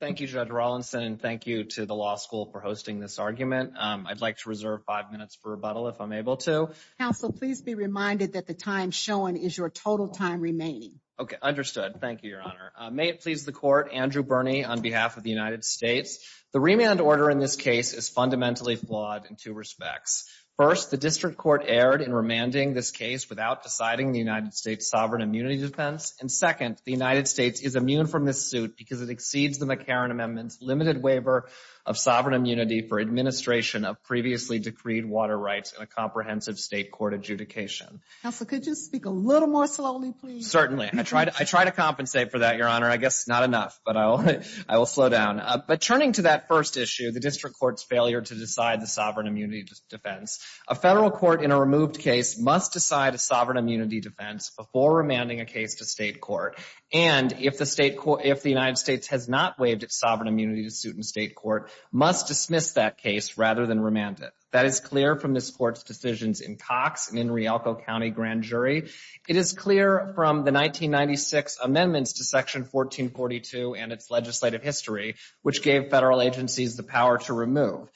Thank you, Judge Rawlinson, and thank you to the law school for hosting this argument. I'd like to reserve five minutes for rebuttal, if I'm able to. Counsel, please be reminded that the time shown is your total time remaining. Okay, understood. Thank you, Your Honor. May it please the Court, Andrew Birney on behalf of the United States. The remand order in this case is fundamentally flawed in two respects. First, the District Court erred in remanding this case without deciding the United States' sovereign immunity defense. And second, the United States is immune from this suit because it exceeds the McCarran Amendment's limited waiver of sovereign immunity for administration of previously decreed water rights in a comprehensive state court adjudication. Counsel, could you speak a little more slowly, please? Certainly. I try to compensate for that, Your Honor. I guess not enough, but I will slow down. But turning to that first issue, the District Court's failure to decide the sovereign immunity defense, a federal court in a removed case must decide a sovereign immunity defense before remanding a case to state court. And if the United States has not waived its sovereign immunity suit in state court, must dismiss that case rather than remand it. That is clear from this Court's decisions in Cox and in Rialco County Grand Jury. It is clear from the 1996 amendments to Section 1442 and its legislative history, which gave federal agencies the power to remove.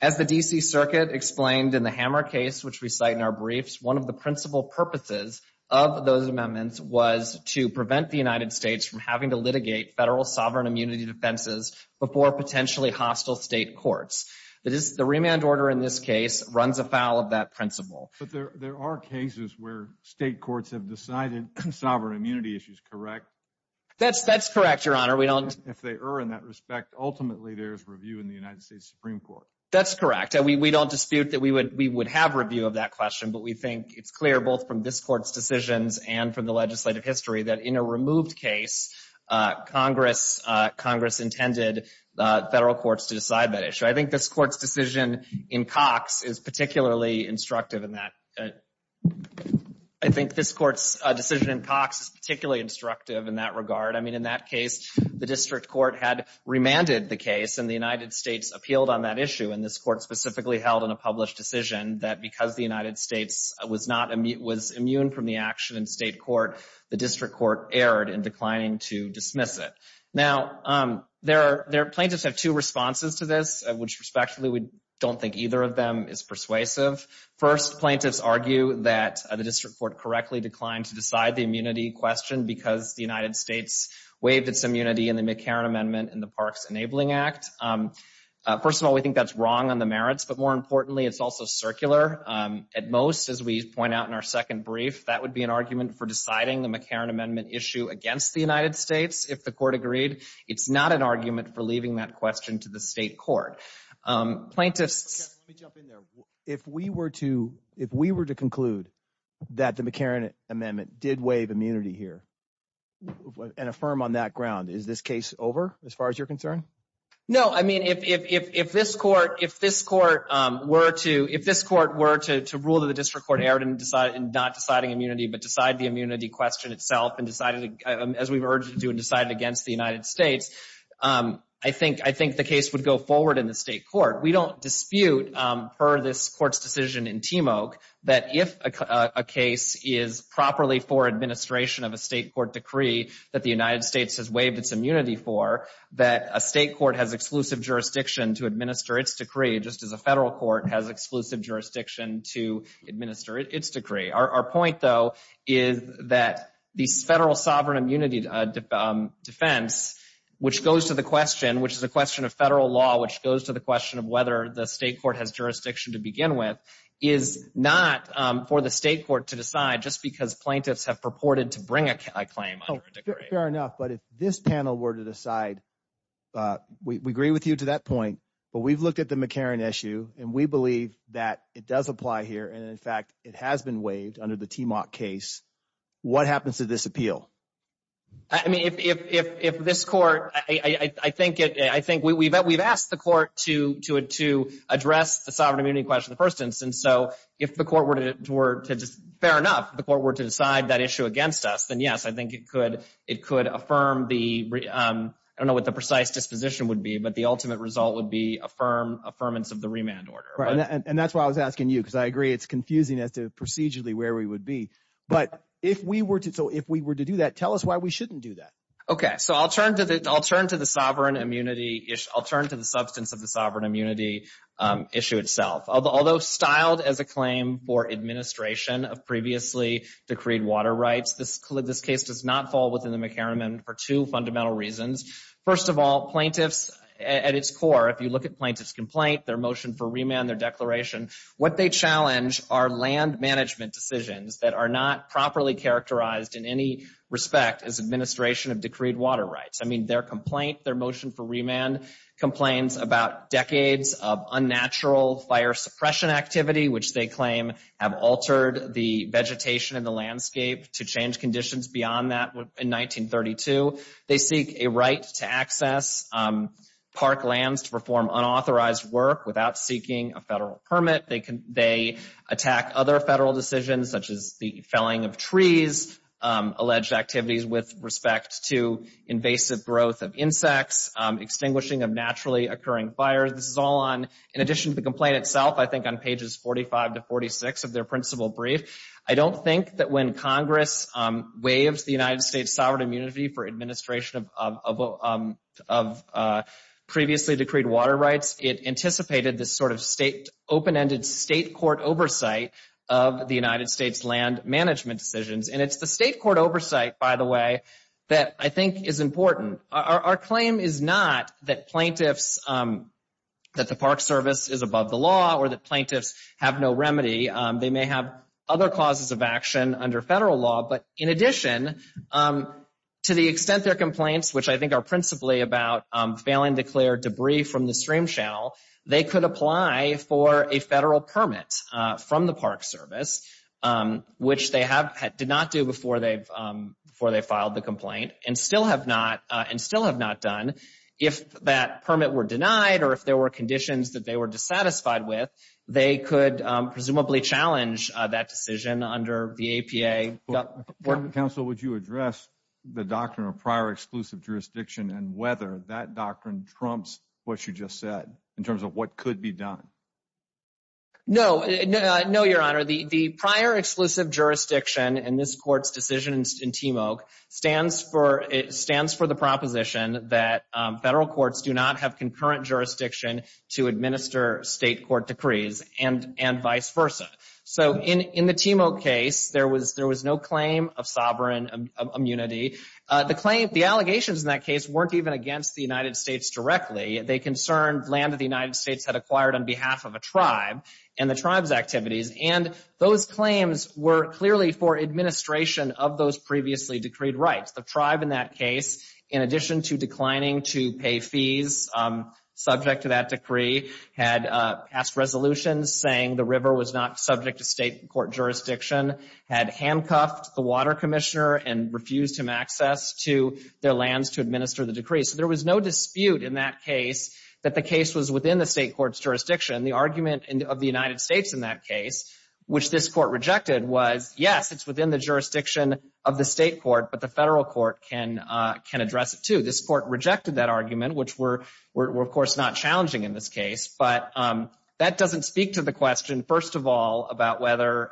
As the D.C. Circuit explained in the Hammer case, which we cite in our briefs, one of the principal purposes of those amendments was to prevent the United States from having to litigate federal sovereign immunity defenses before potentially hostile state courts. The remand order in this case runs afoul of that principle. But there are cases where state courts have decided sovereign immunity issues, correct? That's correct, Your Honor. If they are in that respect, ultimately there is review in the United States Supreme Court. That's correct. We don't dispute that we would have review of that question, but we think it's clear both from this Court's decisions and from the legislative history that in a removed case, Congress intended federal courts to decide that issue. I think this Court's decision in Cox is particularly instructive in that. I think this Court's decision in Cox is particularly instructive in that regard. I mean, in that case, the district court had remanded the case and the United States appealed on that issue, and this Court specifically held in a published decision that because the United States was immune from the action in state court, the district court erred in declining to dismiss it. Now, plaintiffs have two responses to this, which respectively we don't think either of them is persuasive. First, plaintiffs argue that the district court correctly declined to decide the immunity question because the United States waived its immunity in the McCarran Amendment in the Parks Enabling Act. First of all, we think that's wrong on the merits, but more importantly, it's also circular. At most, as we point out in our second brief, that would be an argument for deciding the McCarran Amendment issue against the United States if the Court agreed. It's not an argument for leaving that question to the state court. Plaintiffs— Let me jump in there. If we were to conclude that the McCarran Amendment did waive immunity here and affirm on that ground, is this case over as far as you're concerned? No. I mean, if this Court were to rule that the district court erred in not deciding immunity but decide the immunity question itself as we've urged it to and decided against the United States, I think the case would go forward in the state court. We don't dispute, per this Court's decision in TMOAC, that if a case is properly for administration of a state court decree that the United States has waived its immunity for, that a state court has exclusive jurisdiction to administer its decree, just as a federal court has exclusive jurisdiction to administer its decree. Our point, though, is that this federal sovereign immunity defense, which goes to the question which is a question of federal law, which goes to the question of whether the state court has jurisdiction to begin with, is not for the state court to decide just because plaintiffs have purported to bring a claim under a decree. Fair enough. But if this panel were to decide, we agree with you to that point, but we've looked at the McCarran issue and we believe that it does apply here and, in fact, it has been waived under the TMOAC case, what happens to this appeal? I mean, if this Court, I think we've asked the Court to address the sovereign immunity question in the first instance, so if the Court were to, fair enough, the Court were to decide that issue against us, then yes, I think it could affirm the, I don't know what the precise disposition would be, but the ultimate result would be affirmance of the remand order. Right, and that's why I was asking you, because I agree it's confusing as to procedurally where we would be. But if we were to, so if we were to do that, tell us why we shouldn't do that. Okay, so I'll turn to the, I'll turn to the sovereign immunity, I'll turn to the substance of the sovereign immunity issue itself. Although styled as a claim for administration of previously decreed water rights, this case does not fall within the McCarran Amendment for two fundamental reasons. First of all, plaintiffs, at its core, if you look at plaintiff's complaint, their motion for remand, their declaration, what they challenge are land management decisions that are not properly characterized in any respect as administration of decreed water rights. I mean, their complaint, their motion for remand, complains about decades of unnatural fire suppression activity, which they claim have altered the vegetation and the landscape to change conditions beyond that in 1932. They seek a right to access park lands to perform unauthorized work without seeking a federal permit. They attack other federal decisions, such as the felling of trees, alleged activities with respect to invasive growth of insects, extinguishing of naturally occurring fires. This is all on, in addition to the complaint itself, I think on pages 45 to 46 of their principal brief. I don't think that when Congress waived the United States sovereign immunity for administration of previously decreed water rights, it anticipated this sort of state, open-ended state court oversight of the United States land management decisions. And it's the state court oversight, by the way, that I think is important. Our claim is not that plaintiffs, that the Park Service is above the law or that plaintiffs have no remedy. They may have other causes of action under federal law. But in addition, to the extent their complaints, which I think are principally about failing to clear debris from the stream channel, they could apply for a federal permit from the Park Service, which they did not do before they filed the complaint and still have not done. If that permit were denied or if there were conditions that they were dissatisfied with, they could presumably challenge that decision under the APA. But, counsel, would you address the doctrine of prior exclusive jurisdiction and whether that doctrine trumps what you just said in terms of what could be done? No. No, Your Honor. The prior exclusive jurisdiction in this court's decisions in TMOA stands for, it stands for the proposition that federal courts do not have concurrent jurisdiction to administer state court decrees and vice versa. So in the TMOA case, there was no claim of sovereign immunity. The allegations in that case weren't even against the United States directly. They concerned land that the United States had acquired on behalf of a tribe and the tribe's activities. And those claims were clearly for administration of those previously decreed rights. The tribe in that case, in addition to declining to pay fees subject to that decree, had passed resolutions saying the river was not subject to state court jurisdiction, had handcuffed the water commissioner and refused him access to their lands to administer the decree. So there was no dispute in that case that the case was within the state court's jurisdiction. The argument of the United States in that case, which this court rejected, was, yes, it's within the jurisdiction of the state court, but the federal court can address it, too. This court rejected that argument, which were, of course, not challenging in this case. But that doesn't speak to the question, first of all, about whether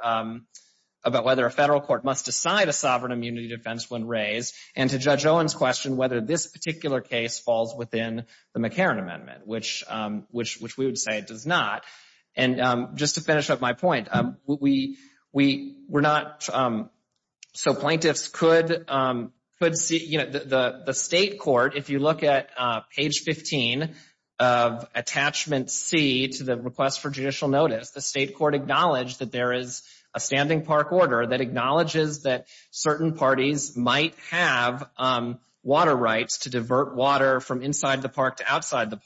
a federal court must decide a sovereign immunity defense when raised and to Judge Owen's question whether this particular case falls within the McCarran Amendment, which we would say it does not. And just to finish up my point, we're not, so plaintiffs could see, you know, the state court, if you look at page 15 of attachment C to the request for judicial notice, the state court acknowledged that there is a standing park order that acknowledges that certain parties might have water rights to divert water from inside the park to outside the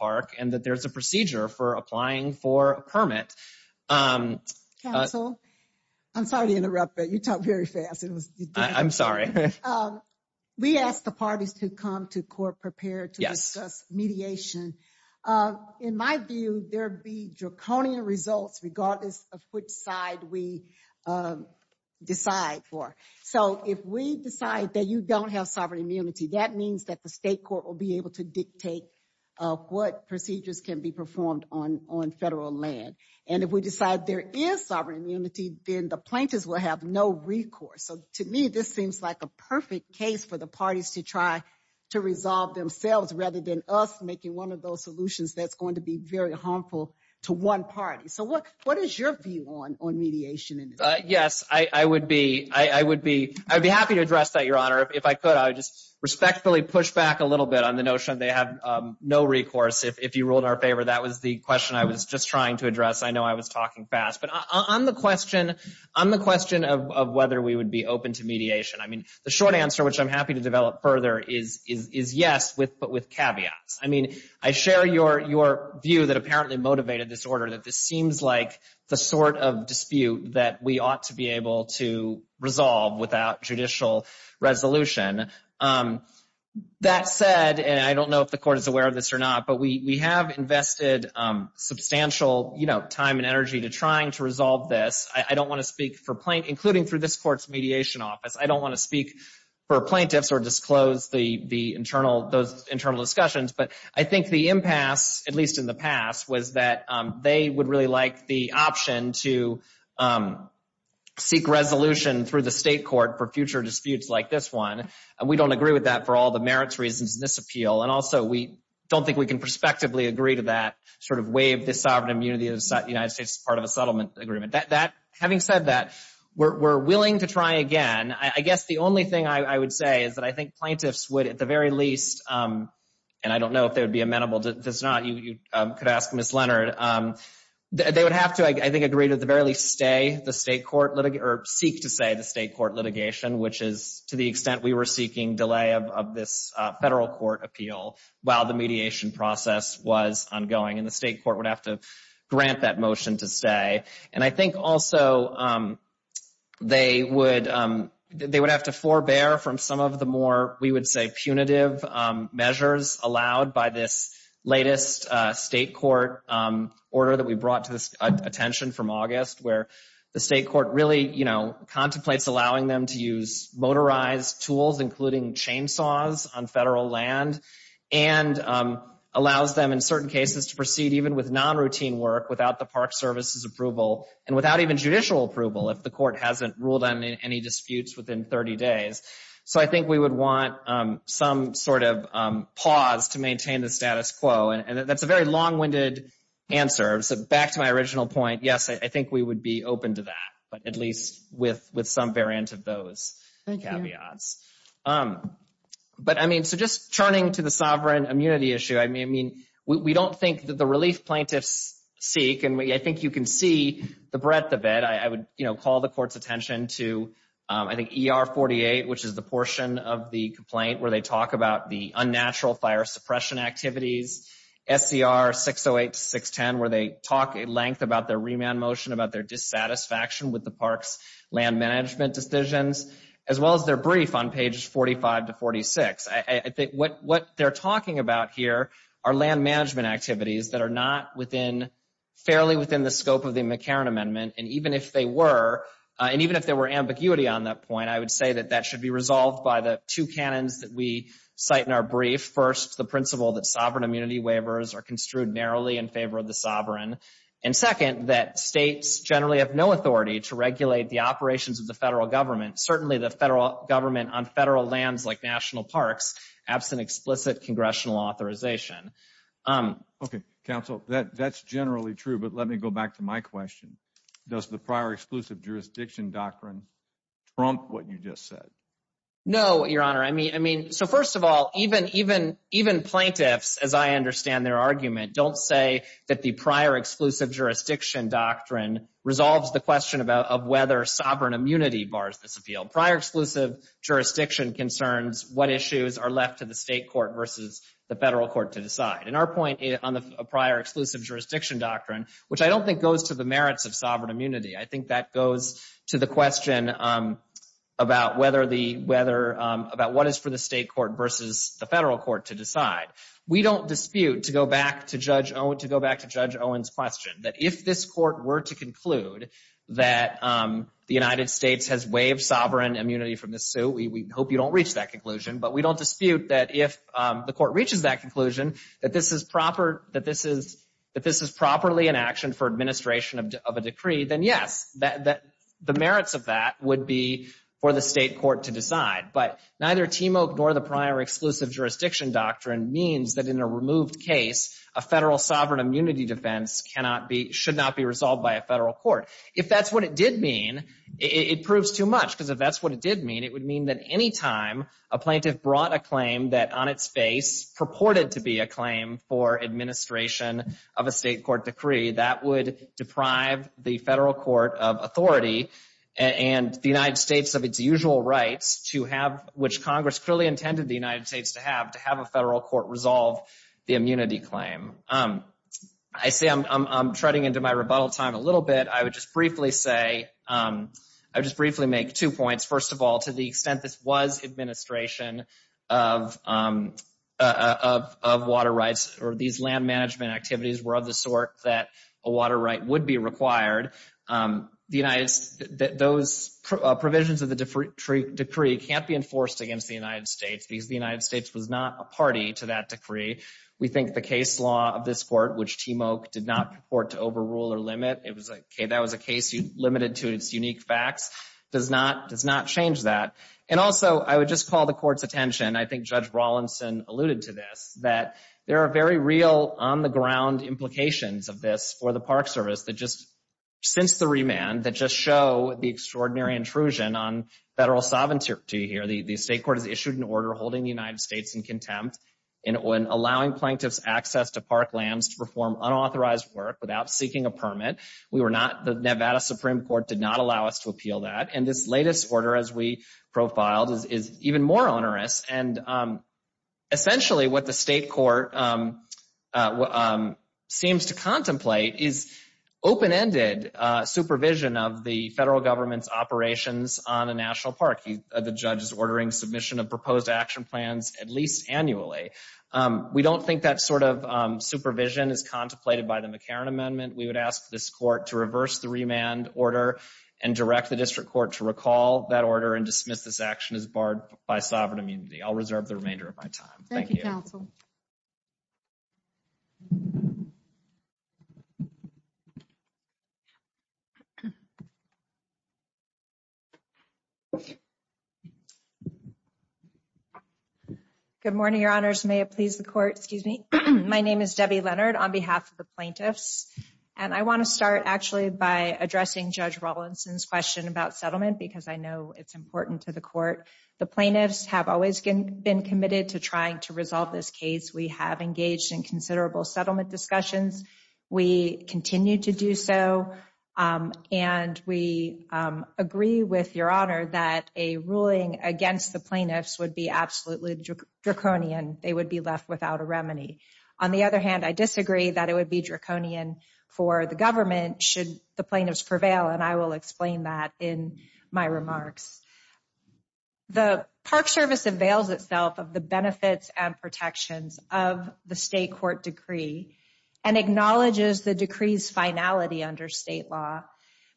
permit. Counsel, I'm sorry to interrupt, but you talk very fast. It was, I'm sorry. We asked the parties to come to court prepared to discuss mediation. In my view, there be draconian results regardless of which side we decide for. So if we decide that you don't have sovereign immunity, that means that the state court will be able to dictate what procedures can be performed on federal land. And if we decide there is sovereign immunity, then the plaintiffs will have no recourse. So to me, this seems like a perfect case for the parties to try to resolve themselves rather than us making one of those solutions that's going to be very harmful to one party. So what is your view on mediation? Yes, I would be happy to address that, Your Honor, if I could. I just respectfully push back a little bit on the notion they have no recourse. If you ruled our favor, that was the question I was just trying to address. I know I was talking fast, but on the question, on the question of whether we would be open to mediation, I mean, the short answer, which I'm happy to develop further, is yes, but with caveats. I mean, I share your view that apparently motivated this order, that this seems like the sort of dispute that we ought to be able to resolve without judicial resolution. That said, and I don't know if the court is aware of this or not, but we have invested substantial time and energy to trying to resolve this. I don't want to speak for plaintiffs, including through this court's mediation office. I don't want to speak for plaintiffs or disclose those internal discussions. But I think the impasse, at least in the past, was that they would really like the option to seek resolution through the state court for future disputes like this one. And we don't agree with that for all the merits reasons in this appeal. And also, we don't think we can prospectively agree to that sort of waive this sovereign immunity of the United States as part of a settlement agreement. That, having said that, we're willing to try again. I guess the only thing I would say is that I think plaintiffs would, at the very least, and I don't know if they would be amenable to this or not, you could ask Ms. Leonard, they would have to, I think, agree to at the very least stay the state court, or seek to stay the state court litigation, which is to the extent we were seeking delay of this federal court appeal while the mediation process was ongoing. And the state court would have to grant that motion to stay. And I think also they would have to forbear from some of the more, we would say, the most recent state court order that we brought to attention from August, where the state court really contemplates allowing them to use motorized tools, including chainsaws on federal land, and allows them in certain cases to proceed even with non-routine work without the Park Service's approval, and without even judicial approval if the court hasn't ruled on any disputes within 30 days. So I think we would want some sort of pause to maintain the status quo. And that's a very long-winded answer. So back to my original point, yes, I think we would be open to that, but at least with some variant of those caveats. But I mean, so just turning to the sovereign immunity issue, I mean, we don't think that the relief plaintiffs seek, and I think you can see the breadth of it. I would call the court's attention to, I think, ER 48, which is the portion of the complaint where they talk about the unnatural fire suppression activities. SCR 608 to 610, where they talk at length about their remand motion, about their dissatisfaction with the park's land management decisions, as well as their brief on pages 45 to 46. I think what they're talking about here are land management activities that are not within, fairly within the scope of the McCarran Amendment. And even if they were, and even if there were ambiguity on that point, I would say that that should be resolved by the two canons that we cite in our brief. First, the principle that sovereign immunity waivers are construed narrowly in favor of the sovereign. And second, that states generally have no authority to regulate the operations of the federal government, certainly the federal government on federal lands like national parks, absent explicit congressional authorization. Okay, counsel, that's generally true, but let me go back to my question. Does the prior exclusive jurisdiction doctrine trump what you just said? No, Your Honor. I mean, so first of all, even plaintiffs, as I understand their argument, don't say that the prior exclusive jurisdiction doctrine resolves the question of whether sovereign immunity bars this appeal. Prior exclusive jurisdiction concerns what issues are left to the state court versus the federal court to decide. And our point on the prior exclusive jurisdiction doctrine, which I don't think goes to the merits of sovereign immunity. I think that goes to the question about what is for the state court versus the federal court to decide. We don't dispute, to go back to Judge Owen's question, that if this court were to conclude that the United States has waived sovereign immunity from this suit, we hope you don't reach that conclusion, but we don't dispute that if the court reaches that conclusion, that this is properly an action for administration of a decree, then yes, the merits of that would be for the state court to decide. But neither TMOA nor the prior exclusive jurisdiction doctrine means that in a removed case, a federal sovereign immunity defense cannot be, should not be resolved by a federal court. If that's what it did mean, it proves too much, because if that's what it did mean, it would mean that any time a plaintiff brought a claim that on its face purported to be a claim for administration of a state court decree, that would deprive the federal court of authority and the United States of its usual rights to have, which Congress clearly intended the United States to have, to have a federal court resolve the immunity claim. I say I'm treading into my rebuttal time a little bit. I would just briefly say, I would just briefly make two points. First of all, to the extent this was administration of water rights or these land management activities were of the sort that a water right would be required, the United States, those provisions of the decree can't be enforced against the United States because the United States was not a party to that decree. We think the case law of this court, which TMOA did not purport to overrule or limit, it was a case limited to its unique facts, does not change that. And also, I would just call the court's attention, I think Judge Rawlinson alluded to this, that there are very real on the ground implications of this for the Park Service that just, since the remand, that just show the extraordinary intrusion on federal sovereignty here. The state court has issued an order holding the United States in contempt in allowing plaintiffs access to park lands to perform unauthorized work without seeking a permit. We were not, the Nevada Supreme Court did not allow us to appeal that. And this latest order, as we profiled, is even more onerous. And essentially what the state court seems to contemplate is open-ended supervision of the federal government's operations on a national park. The judge is ordering submission of proposed action plans at least annually. We don't think that sort of supervision is contemplated by the McCarran Amendment. We would ask this court to reverse the remand order and direct the district court to recall that order and dismiss this action as barred by sovereign immunity. I'll reserve the remainder of my time. Thank you, counsel. Good morning, your honors. May it please the court. Excuse me. My name is Debbie Leonard on behalf of the plaintiffs and I want to start actually by addressing Judge Rawlinson's question about settlement because I know it's important to the court. The plaintiffs have always been committed to trying to resolve this case. We have engaged in considerable settlement discussions. We continue to do so and we agree with your honor that a ruling against the plaintiffs would be absolutely draconian. They would be left without a remedy. On the other hand, I disagree that it would be draconian for the government should the plaintiffs prevail and I will explain that in my remarks. The Park Service avails itself of the benefits and protections of the state court decree and acknowledges the decree's finality under state law,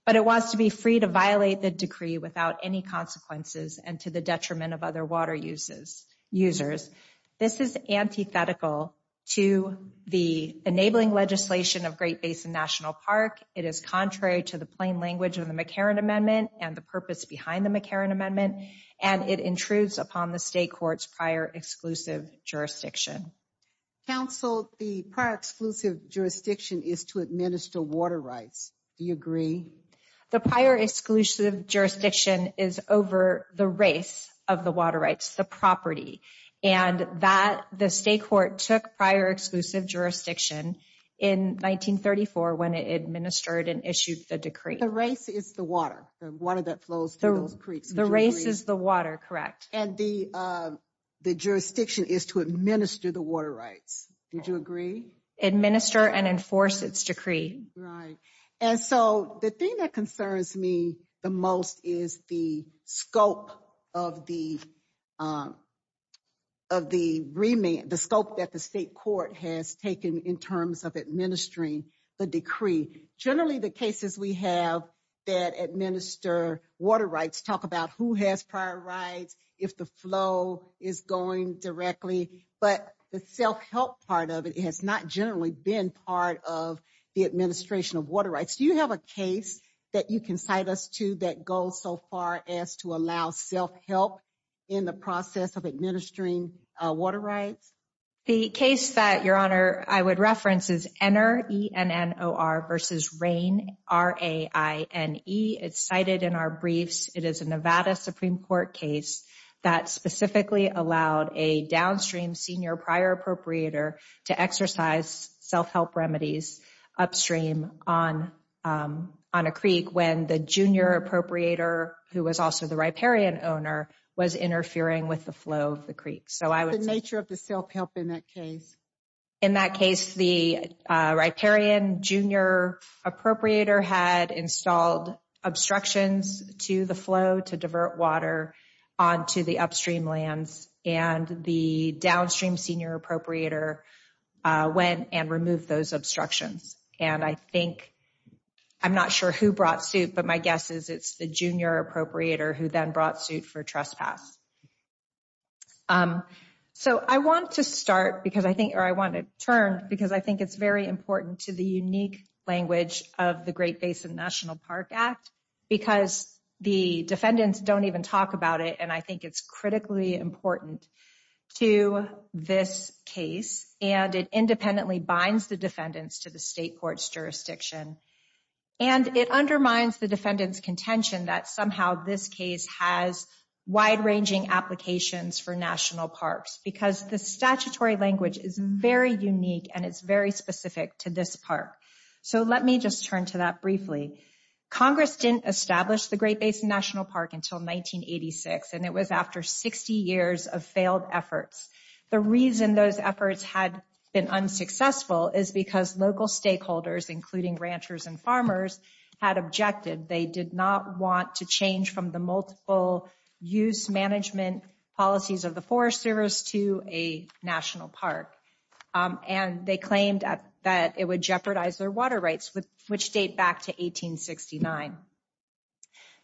but it wants to be free to violate the decree without any consequences and to the detriment of other water users. This is antithetical to the enabling legislation of Great Basin National Park. It is contrary to the plain language of the McCarran Amendment and the purpose behind the McCarran Amendment and it intrudes upon the state court's prior exclusive jurisdiction. Counsel, the prior exclusive jurisdiction is to administer water rights. Do you agree? The prior exclusive jurisdiction is over the race of the water rights, the property, and that the state court took prior exclusive jurisdiction in 1934 when it administered and issued the decree. The race is the water, the water that flows through those creeks. The race is the water, correct. And the jurisdiction is to administer the water rights. Did you agree? Administer and enforce its decree. Right. And so the thing that concerns me the most is the scope of the scope that the state court has taken in terms of administering the decree. Generally, the cases we have that administer water rights talk about who has prior rights, if the flow is going directly, but the self-help part of it has not generally been part of the administration of water rights. Do you have a case that you can cite us to that goes so far as to allow self-help in the process of administering water rights? The case that, Your Honor, I would reference is Ennor, E-N-N-O-R, versus Rain, R-A-I-N-E. It's cited in our briefs. It is a Nevada Supreme Court case that specifically allowed a downstream senior prior appropriator to exercise self-help remedies upstream on a creek when the junior appropriator, who was also the riparian owner, was interfering with the flow of the creek. What's the nature of the self-help in that case? In that case, the riparian junior appropriator had installed obstructions to the flow to divert water onto the upstream lands, and the downstream senior appropriator went and removed those obstructions. And I think, I'm not sure who brought suit, but my guess is it's the junior appropriator who then brought suit for trespass. So I want to start because I think, or I want to turn because I think it's very important to the unique language of the Great Basin National Park Act because the defendants don't even talk about it, and I think it's critically important to this case, and it independently binds the defendants to the state court's jurisdiction. And it undermines the defendant's contention that somehow this case has wide-ranging applications for national parks because the statutory language is very unique and it's very specific to this park. So let me just turn to that briefly. Congress didn't establish the Great Basin National Park until 1986, and it was after 60 years of failed efforts. The reason those efforts had been unsuccessful is because local stakeholders, including ranchers and farmers, had objected. They did not want to change from the multiple-use management policies of the Forest Service to a national park, and they claimed that it would jeopardize their water rights, which date back to 1869.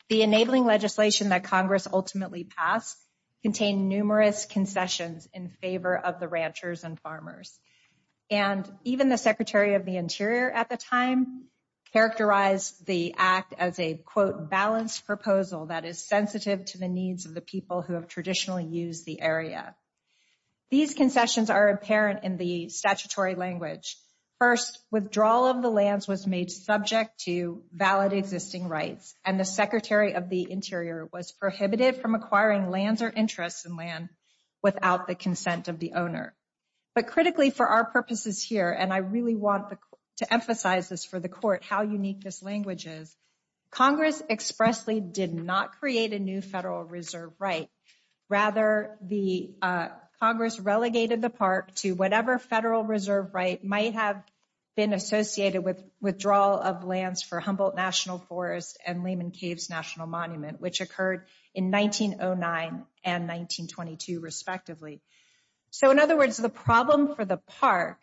The enabling legislation that Congress ultimately passed contained numerous concessions in favor of the ranchers and farmers. And even the Secretary of the Interior at the time characterized the act as a, quote, balanced proposal that is sensitive to the needs of the people who have traditionally used the area. These concessions are apparent in the statutory language. First, withdrawal of the lands was made subject to valid existing rights, and the Secretary of the Interior was prohibited from acquiring lands or interests in land without the consent of the owner. But critically for our purposes here, and I really want to emphasize this for the court how unique this language is, Congress expressly did not create a new Federal Reserve right. Rather, the Congress relegated the park to whatever Federal Reserve right might have been associated with withdrawal of lands for Humboldt National Forest and Lehman Caves National Monument, which occurred in 1909 and 1922, respectively. So in other words, the problem for the park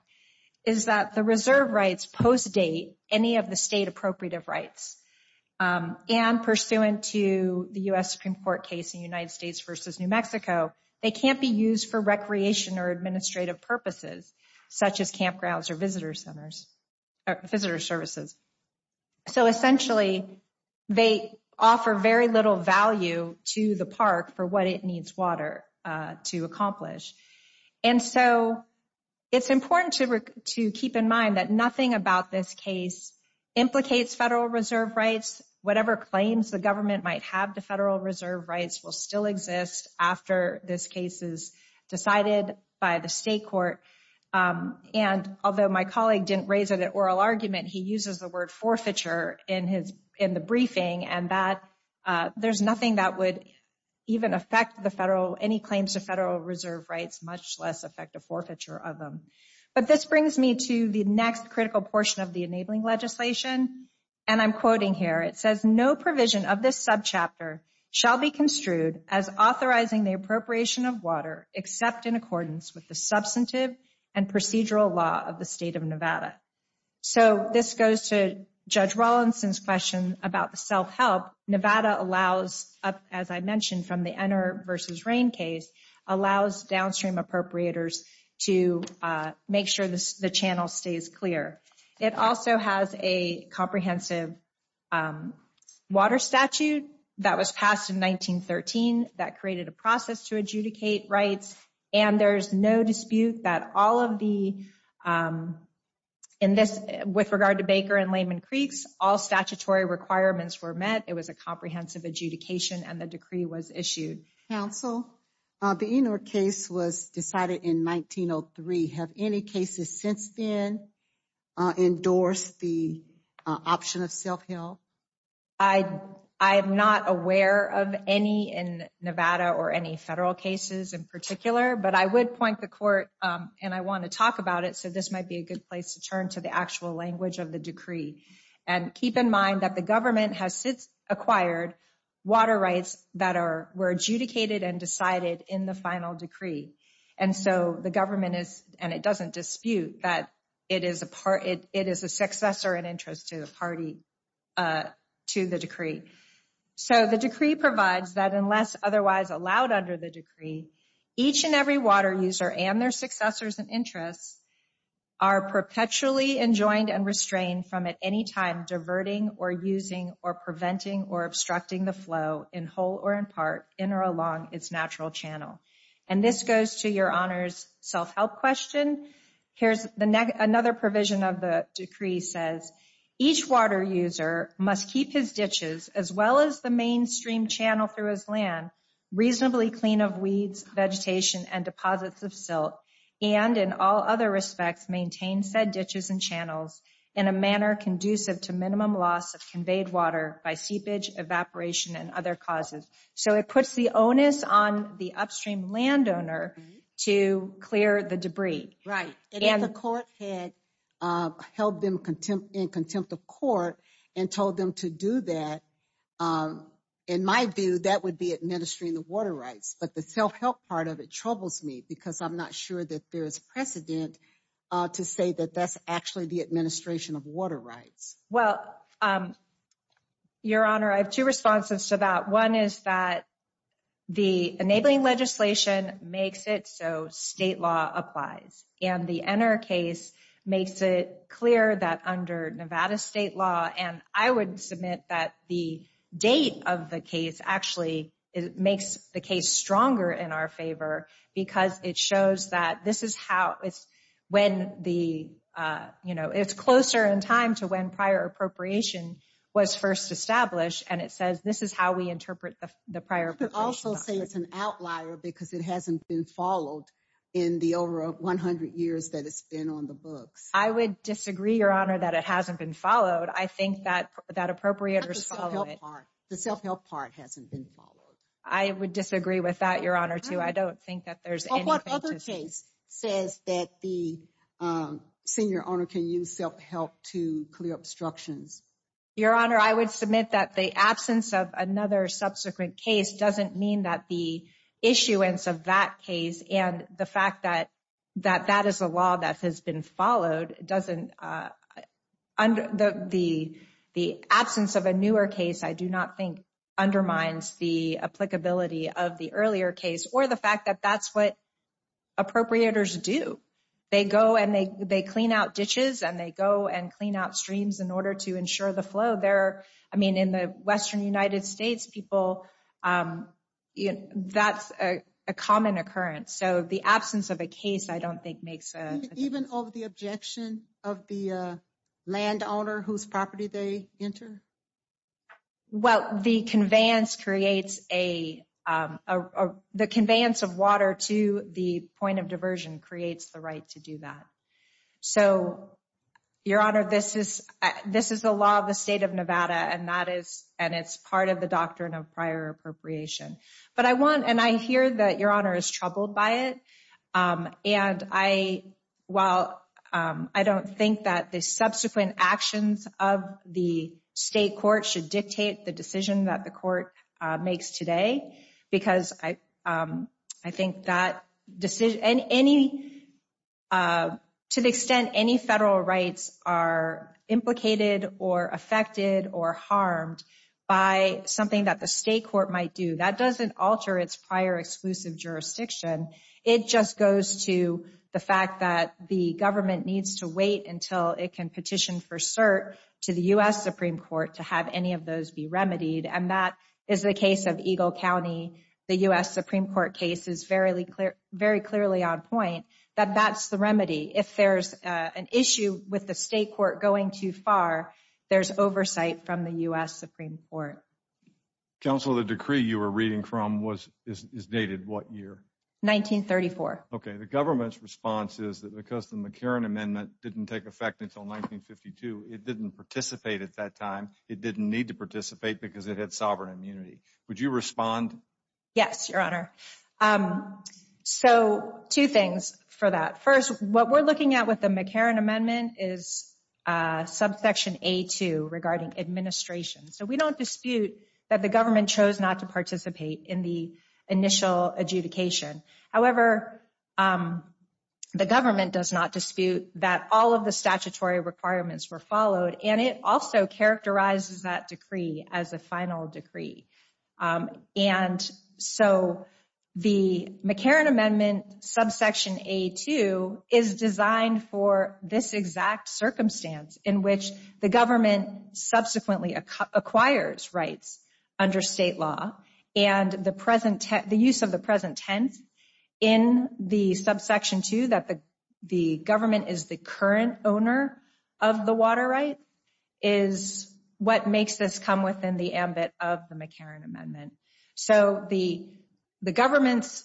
is that the reserve rights post-date any of the state appropriative rights. And pursuant to the U.S. Supreme Court case in United States versus New Mexico, they can't be used for recreation or administrative purposes, such as campgrounds or visitor services. So essentially, they offer very little value to the park for what it needs water to accomplish. And so it's important to keep in mind that nothing about this case implicates Federal Reserve rights. Whatever claims the government might have to Federal Reserve rights will still exist after this case is decided by the state court. And although my colleague didn't raise it at oral argument, he uses the word forfeiture in the briefing and that there's nothing that would even affect the Federal, any claims to Federal Reserve rights, much less affect a forfeiture of them. But this brings me to the next critical portion of the enabling legislation, and I'm quoting here. It says, no provision of this subchapter shall be construed as authorizing the appropriation of water, except in accordance with the substantive and procedural law of the state of Nevada. So this goes to Judge Rawlinson's question about the self-help Nevada allows, as I mentioned from the Ener versus Rain case, allows downstream appropriators to make sure the channel stays clear. It also has a comprehensive water statute that was passed in 1913 that created a process to adjudicate rights. And there's no dispute that all of the, in this, with regard to Baker and Lehman Creeks, all statutory requirements were met. It was a comprehensive adjudication and the decree was issued. Counsel, the Enor case was decided in 1903. Have any cases since then endorsed the option of self-help? I am not aware of any in Nevada or any Federal cases in particular, but I would point the court, and I want to talk about it, so this might be a good place to turn to the actual language of the decree. And keep in mind that the government has since acquired water rights that were adjudicated and decided in the final decree. And so the government is, and it doesn't dispute that it is a successor and interest to the party, to the decree. So the decree provides that unless otherwise allowed under the decree, each and every water user and their successors and interests are perpetually enjoined and restrained from at any time diverting or using or preventing or obstructing the flow in whole or in part in or along its natural channel. And this goes to your Honor's self-help question. Here's another provision of the decree, says each water user must keep his ditches as well as the mainstream channel through his land reasonably clean of weeds, vegetation, and deposits of silt, and in all other respects, maintain said ditches and channels in a manner conducive to minimum loss of conveyed water by seepage, evaporation, and other causes. So it puts the onus on the upstream landowner to clear the debris. Right. And if the court had held them in contempt of court and told them to do that, in my view, that would be administering the water rights. But the self-help part of it troubles me because I'm not sure that there is precedent to say that that's actually the administration of water rights. Well, your Honor, I have two responses to that. One is that the enabling legislation makes it so state law applies and the Enner case makes it clear that under Nevada state law, and I would submit that the date of the case actually makes the case stronger in our favor because it shows that this is how it's when the, you know, it's closer in time to when prior appropriation was first established, and it says this is how we interpret the prior. You could also say it's an outlier because it hasn't been followed in the over 100 years that it's been on the books. I would disagree, Your Honor, that it hasn't been followed. I think that appropriators follow it. The self-help part hasn't been followed. I would disagree with that, Your Honor, too. I don't think that there's any point to- Well, what other case says that the senior owner can use self-help to clear obstructions? Your Honor, I would submit that the absence of another subsequent case doesn't mean that the issuance of that case and the fact that that is a law that has been followed doesn't, the absence of a newer case, I do not think undermines the applicability of the earlier case or the fact that that's what appropriators do. They go and they clean out ditches, and they go and clean out streams in order to ensure the flow there. I mean, in the Western United States, people, that's a common occurrence. So the absence of a case I don't think makes a- Even of the objection of the landowner whose property they enter? Well, the conveyance creates a, the conveyance of water to the point of diversion creates the right to do that. So, Your Honor, this is, this is the law of the state of Nevada, and that is, and it's part of the doctrine of prior appropriation. But I want, and I hear that Your Honor is troubled by it, and I, while I don't think that the subsequent actions of the state court should dictate the decision that the court makes today, because I think that decision, and any, to the extent any federal rights are implicated or affected or harmed by something that the state court might do, that doesn't alter its prior exclusive jurisdiction. It just goes to the fact that the government needs to wait until it can petition for cert to the U.S. Supreme Court to have any of those be remedied. And that is the case of Eagle County. The U.S. Supreme Court case is very clearly on point that that's the remedy. If there's an issue with the state court going too far, there's oversight from the U.S. Supreme Court. Counsel, the decree you were reading from was, is dated what year? 1934. Okay, the government's response is that because the McCarran Amendment didn't take effect until 1952, it didn't participate at that time. It didn't need to participate because it had sovereign immunity. Would you respond? Yes, Your Honor. So, two things for that. First, what we're looking at with the McCarran Amendment is subsection A2 regarding administration. So we don't dispute that the government chose not to participate in the initial adjudication. However, the government does not dispute that all of the statutory requirements were followed, and it also characterizes that decree as a final decree. And so the McCarran Amendment subsection A2 is designed for this exact circumstance in which the government subsequently acquires rights under state law, and the use of the present tense in the subsection 2, that the government is the current owner of the water right, is what makes this come within the ambit of the McCarran Amendment. So the government's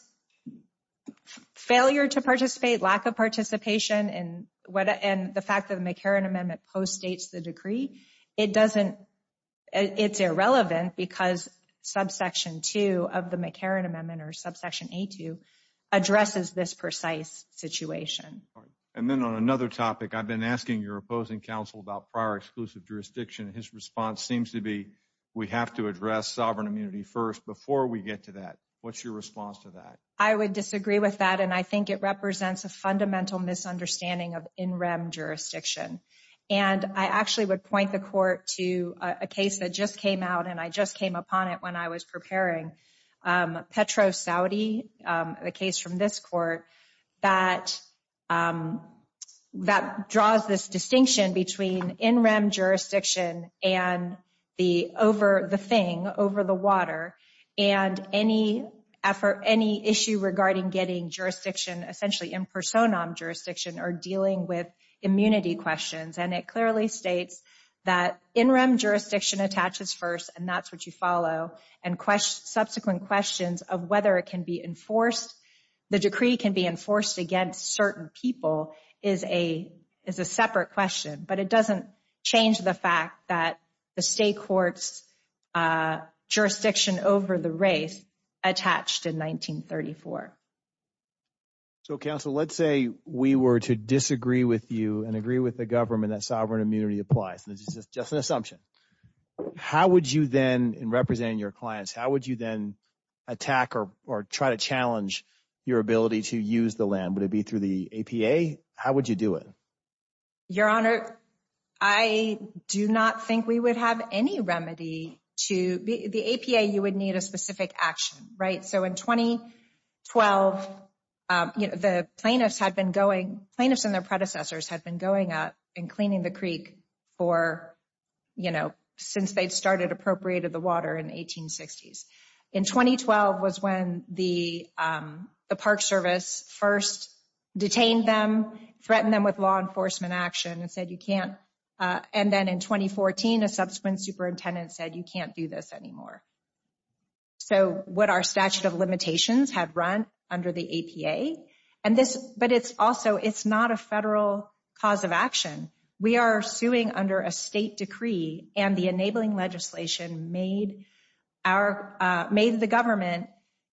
failure to participate, lack of participation, and the fact that the McCarran Amendment postdates the decree, it doesn't, it's irrelevant because subsection 2 of the McCarran Amendment or subsection A2 addresses this precise situation. And then on another topic, I've been asking your opposing counsel about prior exclusive jurisdiction. His response seems to be, we have to address sovereign immunity first before we get to that. What's your response to that? I would disagree with that, and I think it represents a fundamental misunderstanding of in-rem jurisdiction. And I actually would point the court to a case that just came out, and I just came upon it when I was preparing, Petro-Saudi, the case from this court, that draws this distinction between in-rem jurisdiction and the over the thing, over the water, and any issue regarding getting jurisdiction, essentially in-personam jurisdiction, or dealing with immunity questions. And it clearly states that in-rem jurisdiction attaches first, and that's what you follow, and subsequent questions of whether it can be enforced, the decree can be enforced against certain people is a separate question, but it doesn't change the fact that the state court's jurisdiction over the race attached in 1934. So, counsel, let's say we were to disagree with you and agree with the government that sovereign immunity applies. This is just an assumption. How would you then, in representing your clients, how would you then attack or try to challenge your ability to use the land? Would it be through the APA? How would you do it? Your Honor, I do not think we would have any remedy to... The APA, you would need a specific action, right? So, in 2012, the plaintiffs had been going... Plaintiffs and their predecessors had been going out and cleaning the creek for, you know, since they'd started appropriating the water in 1860s. In 2012 was when the Park Service first detained them, threatened them with law enforcement action, and said, you can't... And then in 2014, a subsequent superintendent said, you can't do this anymore. So, what our statute of limitations have run under the APA, and this... But it's also... It's not a federal cause of action. We are suing under a state decree, and the enabling legislation made our... Made the government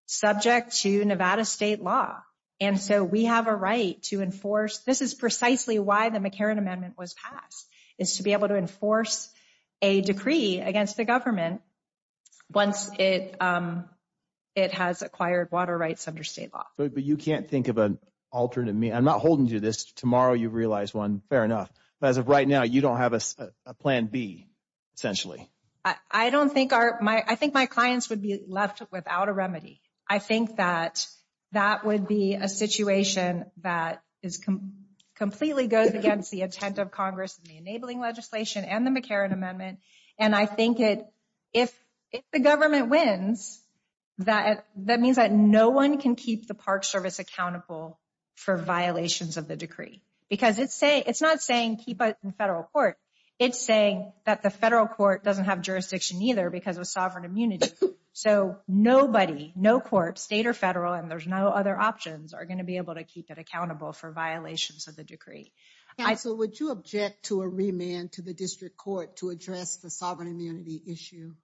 subject to Nevada state law. And so, we have a right to enforce... This is precisely why the McCarran Amendment was passed, is to be able to enforce a decree against the government once it has acquired water rights under state law. But you can't think of an alternative... I'm not holding you to this. Tomorrow, you realize one. Fair enough. But as of right now, you don't have a plan B, essentially. I don't think our... I think my clients would be left without a remedy. I think that that would be a situation that completely goes against the intent of Congress and the enabling legislation and the McCarran Amendment. And I think if the government wins, that means that no one can keep the Park Service accountable for violations of the decree. Because it's not saying keep it in federal court. It's saying that the federal court doesn't have jurisdiction either because of sovereign immunity. So, nobody, no court, state or federal, and there's no other options, are going to be able to keep it accountable for violations of the decree. And so, would you object to a remand to the district court to address the sovereign immunity issue?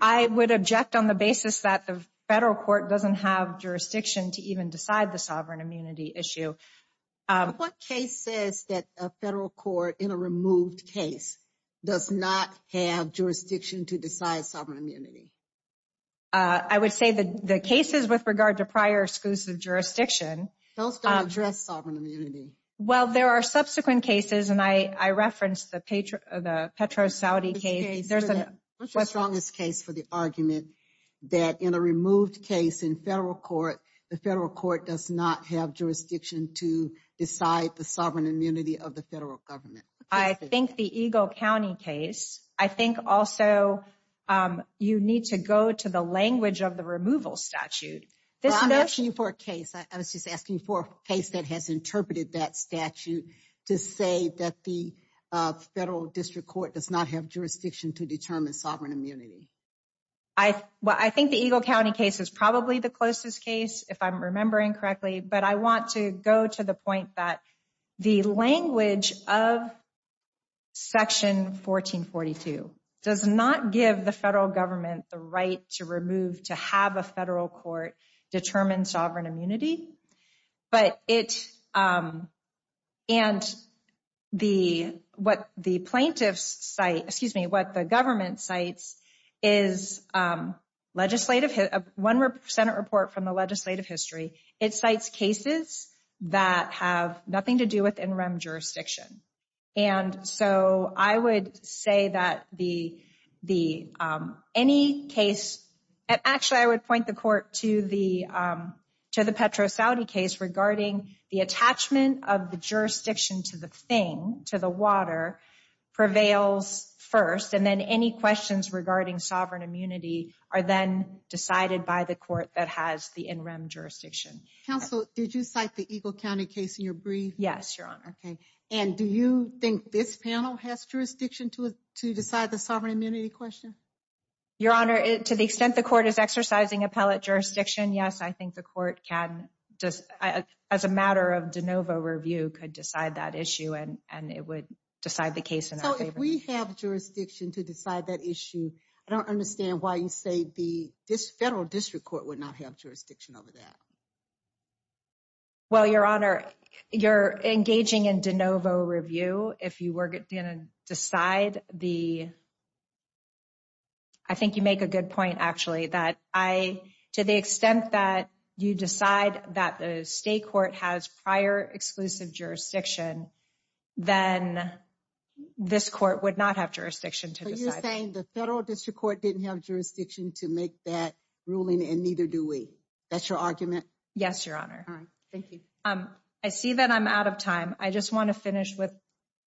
I would object on the basis that the federal court doesn't have jurisdiction to even decide the sovereign immunity issue. What case says that a federal court in a removed case does not have jurisdiction to decide sovereign immunity? I would say the cases with regard to prior exclusive jurisdiction... Those don't address sovereign immunity. Well, there are subsequent cases, and I referenced the Petro-Saudi case. What's the strongest case for the argument that in a removed case in federal court, the federal court does not have jurisdiction to decide the sovereign immunity of the federal government? I think the Eagle County case. I think also you need to go to the language of the removal statute. Well, I'm asking you for a case. I was just asking you for a case that has interpreted that statute to say that the federal district court does not have jurisdiction to determine sovereign immunity. I think the Eagle County case is probably the closest case, if I'm remembering correctly, but I want to go to the point that the language of Section 1442 does not give the federal government the right to remove, to have a federal court determine sovereign immunity, but it, and the, what the plaintiffs cite, excuse me, what the government cites is legislative, one Senate report from the legislative history, it cites cases that have nothing to do with interim jurisdiction. And so I would say that the, any case, and actually I would point the court to the Petro-Saudi case regarding the attachment of the jurisdiction to the thing, to the water prevails first, and then any questions regarding sovereign immunity are then decided by the court that has the interim jurisdiction. Counsel, did you cite the Eagle County case in your brief? Yes, Your Honor. And do you think this panel has jurisdiction to decide the sovereign immunity question? Your Honor, to the extent the court is exercising appellate jurisdiction, yes, I think the court can, as a matter of de novo review, could decide that issue and it would decide the case in our favor. So if we have jurisdiction to decide that issue, I don't understand why you say the federal district court would not have jurisdiction over that. Well, Your Honor, you're engaging in de novo review if you were gonna decide the, I think you make a good point, actually, that I, to the extent that you decide that the state court has prior exclusive jurisdiction, then this court would not have jurisdiction to decide. So you're saying the federal district court didn't have jurisdiction to make that ruling and neither do we. That's your argument? Yes, Your Honor. All right, thank you. I see that I'm out of time. I just wanna finish with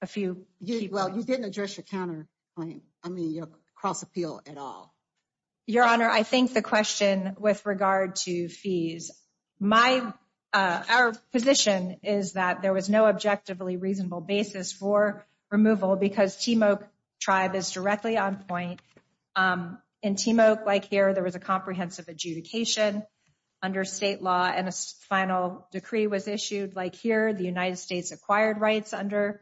a few key points. Well, you didn't address your counter point, I mean, your cross appeal at all. Your Honor, I think the question with regard to fees, our position is that there was no objectively reasonable basis for removal because Timok tribe is directly on point. In Timok, like here, there was a comprehensive adjudication under state law and a final decree was issued. Like here, the United States acquired rights under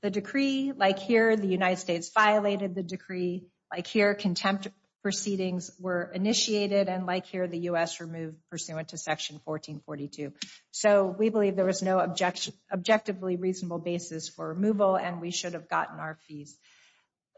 the decree. Like here, the United States violated the decree. Like here, contempt proceedings were initiated. And like here, the U.S. removed pursuant to section 1442. So we believe there was no objectively reasonable basis for removal and we should have gotten our fees.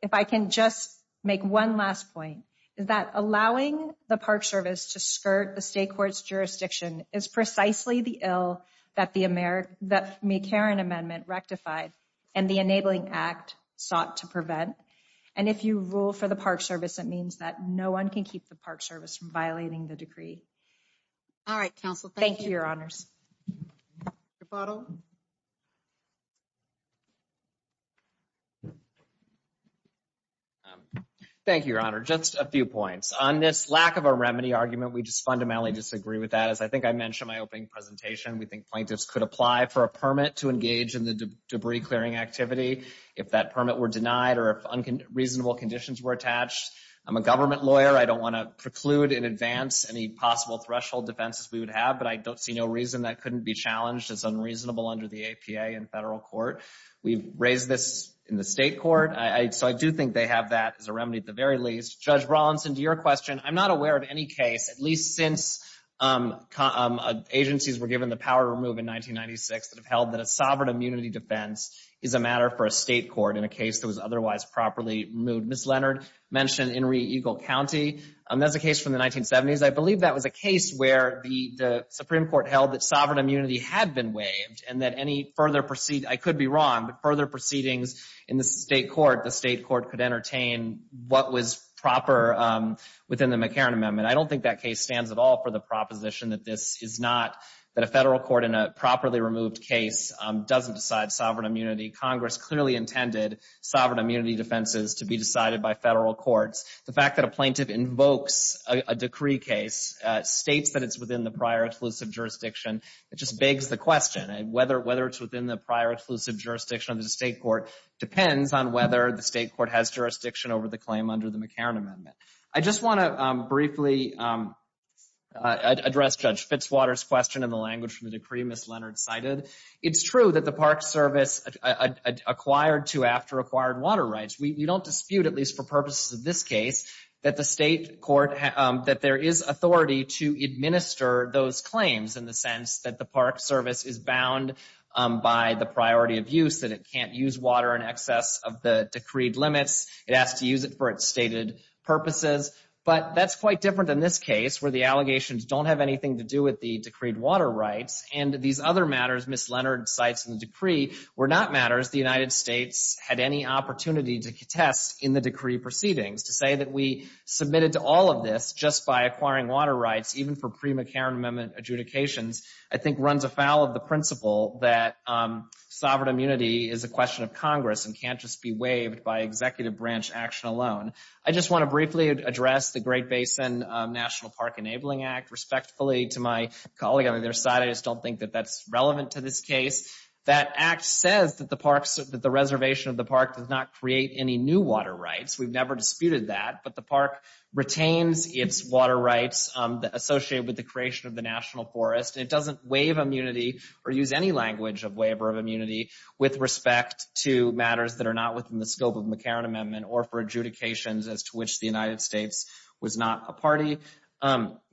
If I can just make one last point, is that allowing the Park Service to skirt the state court's jurisdiction is precisely the ill that the McCarran Amendment rectified and the Enabling Act sought to prevent. And if you rule for the Park Service, it means that no one can keep the Park Service from violating the decree. All right, counsel, thank you. Thank you, Your Honors. Your bottle. Thank you, Your Honor, just a few points. On this lack of a remedy argument, we just fundamentally disagree with that as I think I mentioned in my opening presentation. We think plaintiffs could apply for a permit to engage in the debris-clearing activity if that permit were denied or if reasonable conditions were attached. I'm a government lawyer. I don't want to preclude in advance any possible threshold defenses we would have, but I don't see no reason that couldn't be challenged as unreasonable under the APA in federal court. We've raised this in the state court, so I do think they have that as a remedy at the very least. Judge Rawlinson, to your question, I'm not aware of any case, at least since agencies were given the power to remove in 1996 that have held that a sovereign immunity defense is a matter for a state court in a case that was otherwise properly removed. Ms. Leonard mentioned Inree Eagle County. That's a case from the 1970s. I believe that was a case where the Supreme Court held that sovereign immunity had been waived and that any further, I could be wrong, but further proceedings in the state court, the state court could entertain what was proper within the McCarran Amendment. I don't think that case stands at all for the proposition that this is not, that a federal court in a properly removed case doesn't decide sovereign immunity. Congress clearly intended sovereign immunity defenses to be decided by federal courts. The fact that a plaintiff invokes a decree case, states that it's within the prior exclusive jurisdiction, it just begs the question, whether it's within the prior exclusive jurisdiction of the state court depends on whether the state court has jurisdiction over the claim under the McCarran Amendment. I just want to briefly address Judge Fitzwater's question in the language from the decree Ms. Leonard cited. It's true that the Park Service acquired to after acquired water rights, we don't dispute, at least for purposes of this case, that the state court, that there is authority to administer those claims in the sense that the Park Service is bound by the priority of use, that it can't use water in excess of the decreed limits. It has to use it for its stated purposes, but that's quite different in this case, where the allegations don't have anything to do with the decreed water rights, and these other matters Ms. Leonard cites in the decree were not matters the United States had any opportunity to contest in the decree proceedings. To say that we submitted to all of this just by acquiring water rights, even for pre-McCarran Amendment adjudications, I think runs afoul of the principle that sovereign immunity is a question of Congress and can't just be waived by executive branch action alone. I just want to briefly address the Great Basin National Park Enabling Act. Respectfully to my colleague on the other side, I just don't think that that's relevant to this case. That act says that the reservation of the park does not create any new water rights. We've never disputed that, but the park retains its water rights associated with the creation of the national forest. It doesn't waive immunity or use any language of waiver of immunity with respect to matters that are not within the scope of the McCarran Amendment or for adjudications as to which the United States was not a party.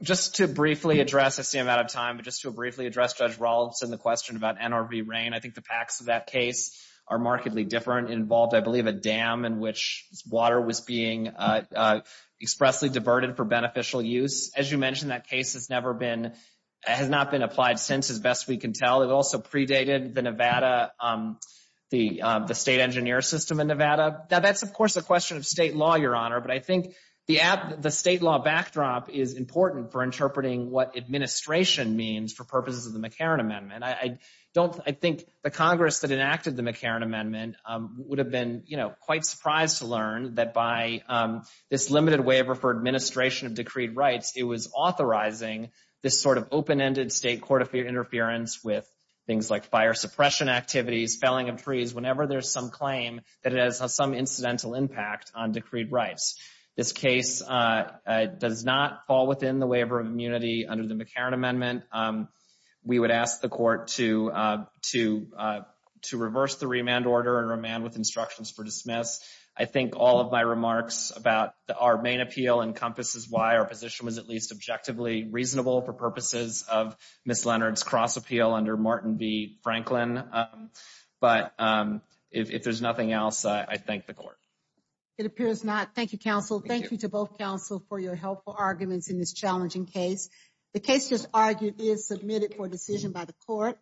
Just to briefly address, I see I'm out of time, but just to briefly address Judge Rawlinson the question about NRV rain. I think the facts of that case are markedly different. It involved, I believe, a dam in which water was being expressly diverted for beneficial use. As you mentioned, that case has never been, has not been applied since, as best we can tell. It also predated the Nevada, the state engineer system in Nevada. Now, that's, of course, a question of state law, Your Honor, but I think the state law backdrop is important for interpreting what administration means for purposes of the McCarran Amendment. I don't, I think the Congress that enacted the McCarran Amendment would have been, you know, quite surprised to learn that by this limited waiver for administration of decreed rights, it was authorizing this sort of open-ended state court interference with things like fire suppression activities, felling of trees, whenever there's some claim that it has some incidental impact on decreed rights. This case does not fall within the waiver of immunity under the McCarran Amendment. We would ask the court to reverse the remand order and remand with instructions for dismiss. I think all of my remarks about our main appeal encompasses why our position was at least objectively reasonable for purposes of Ms. Leonard's cross appeal under Martin v. Franklin. But if there's nothing else, I thank the court. It appears not. Thank you, counsel. Thank you to both counsel for your helpful arguments in this challenging case. The case just argued is submitted for decision by the court.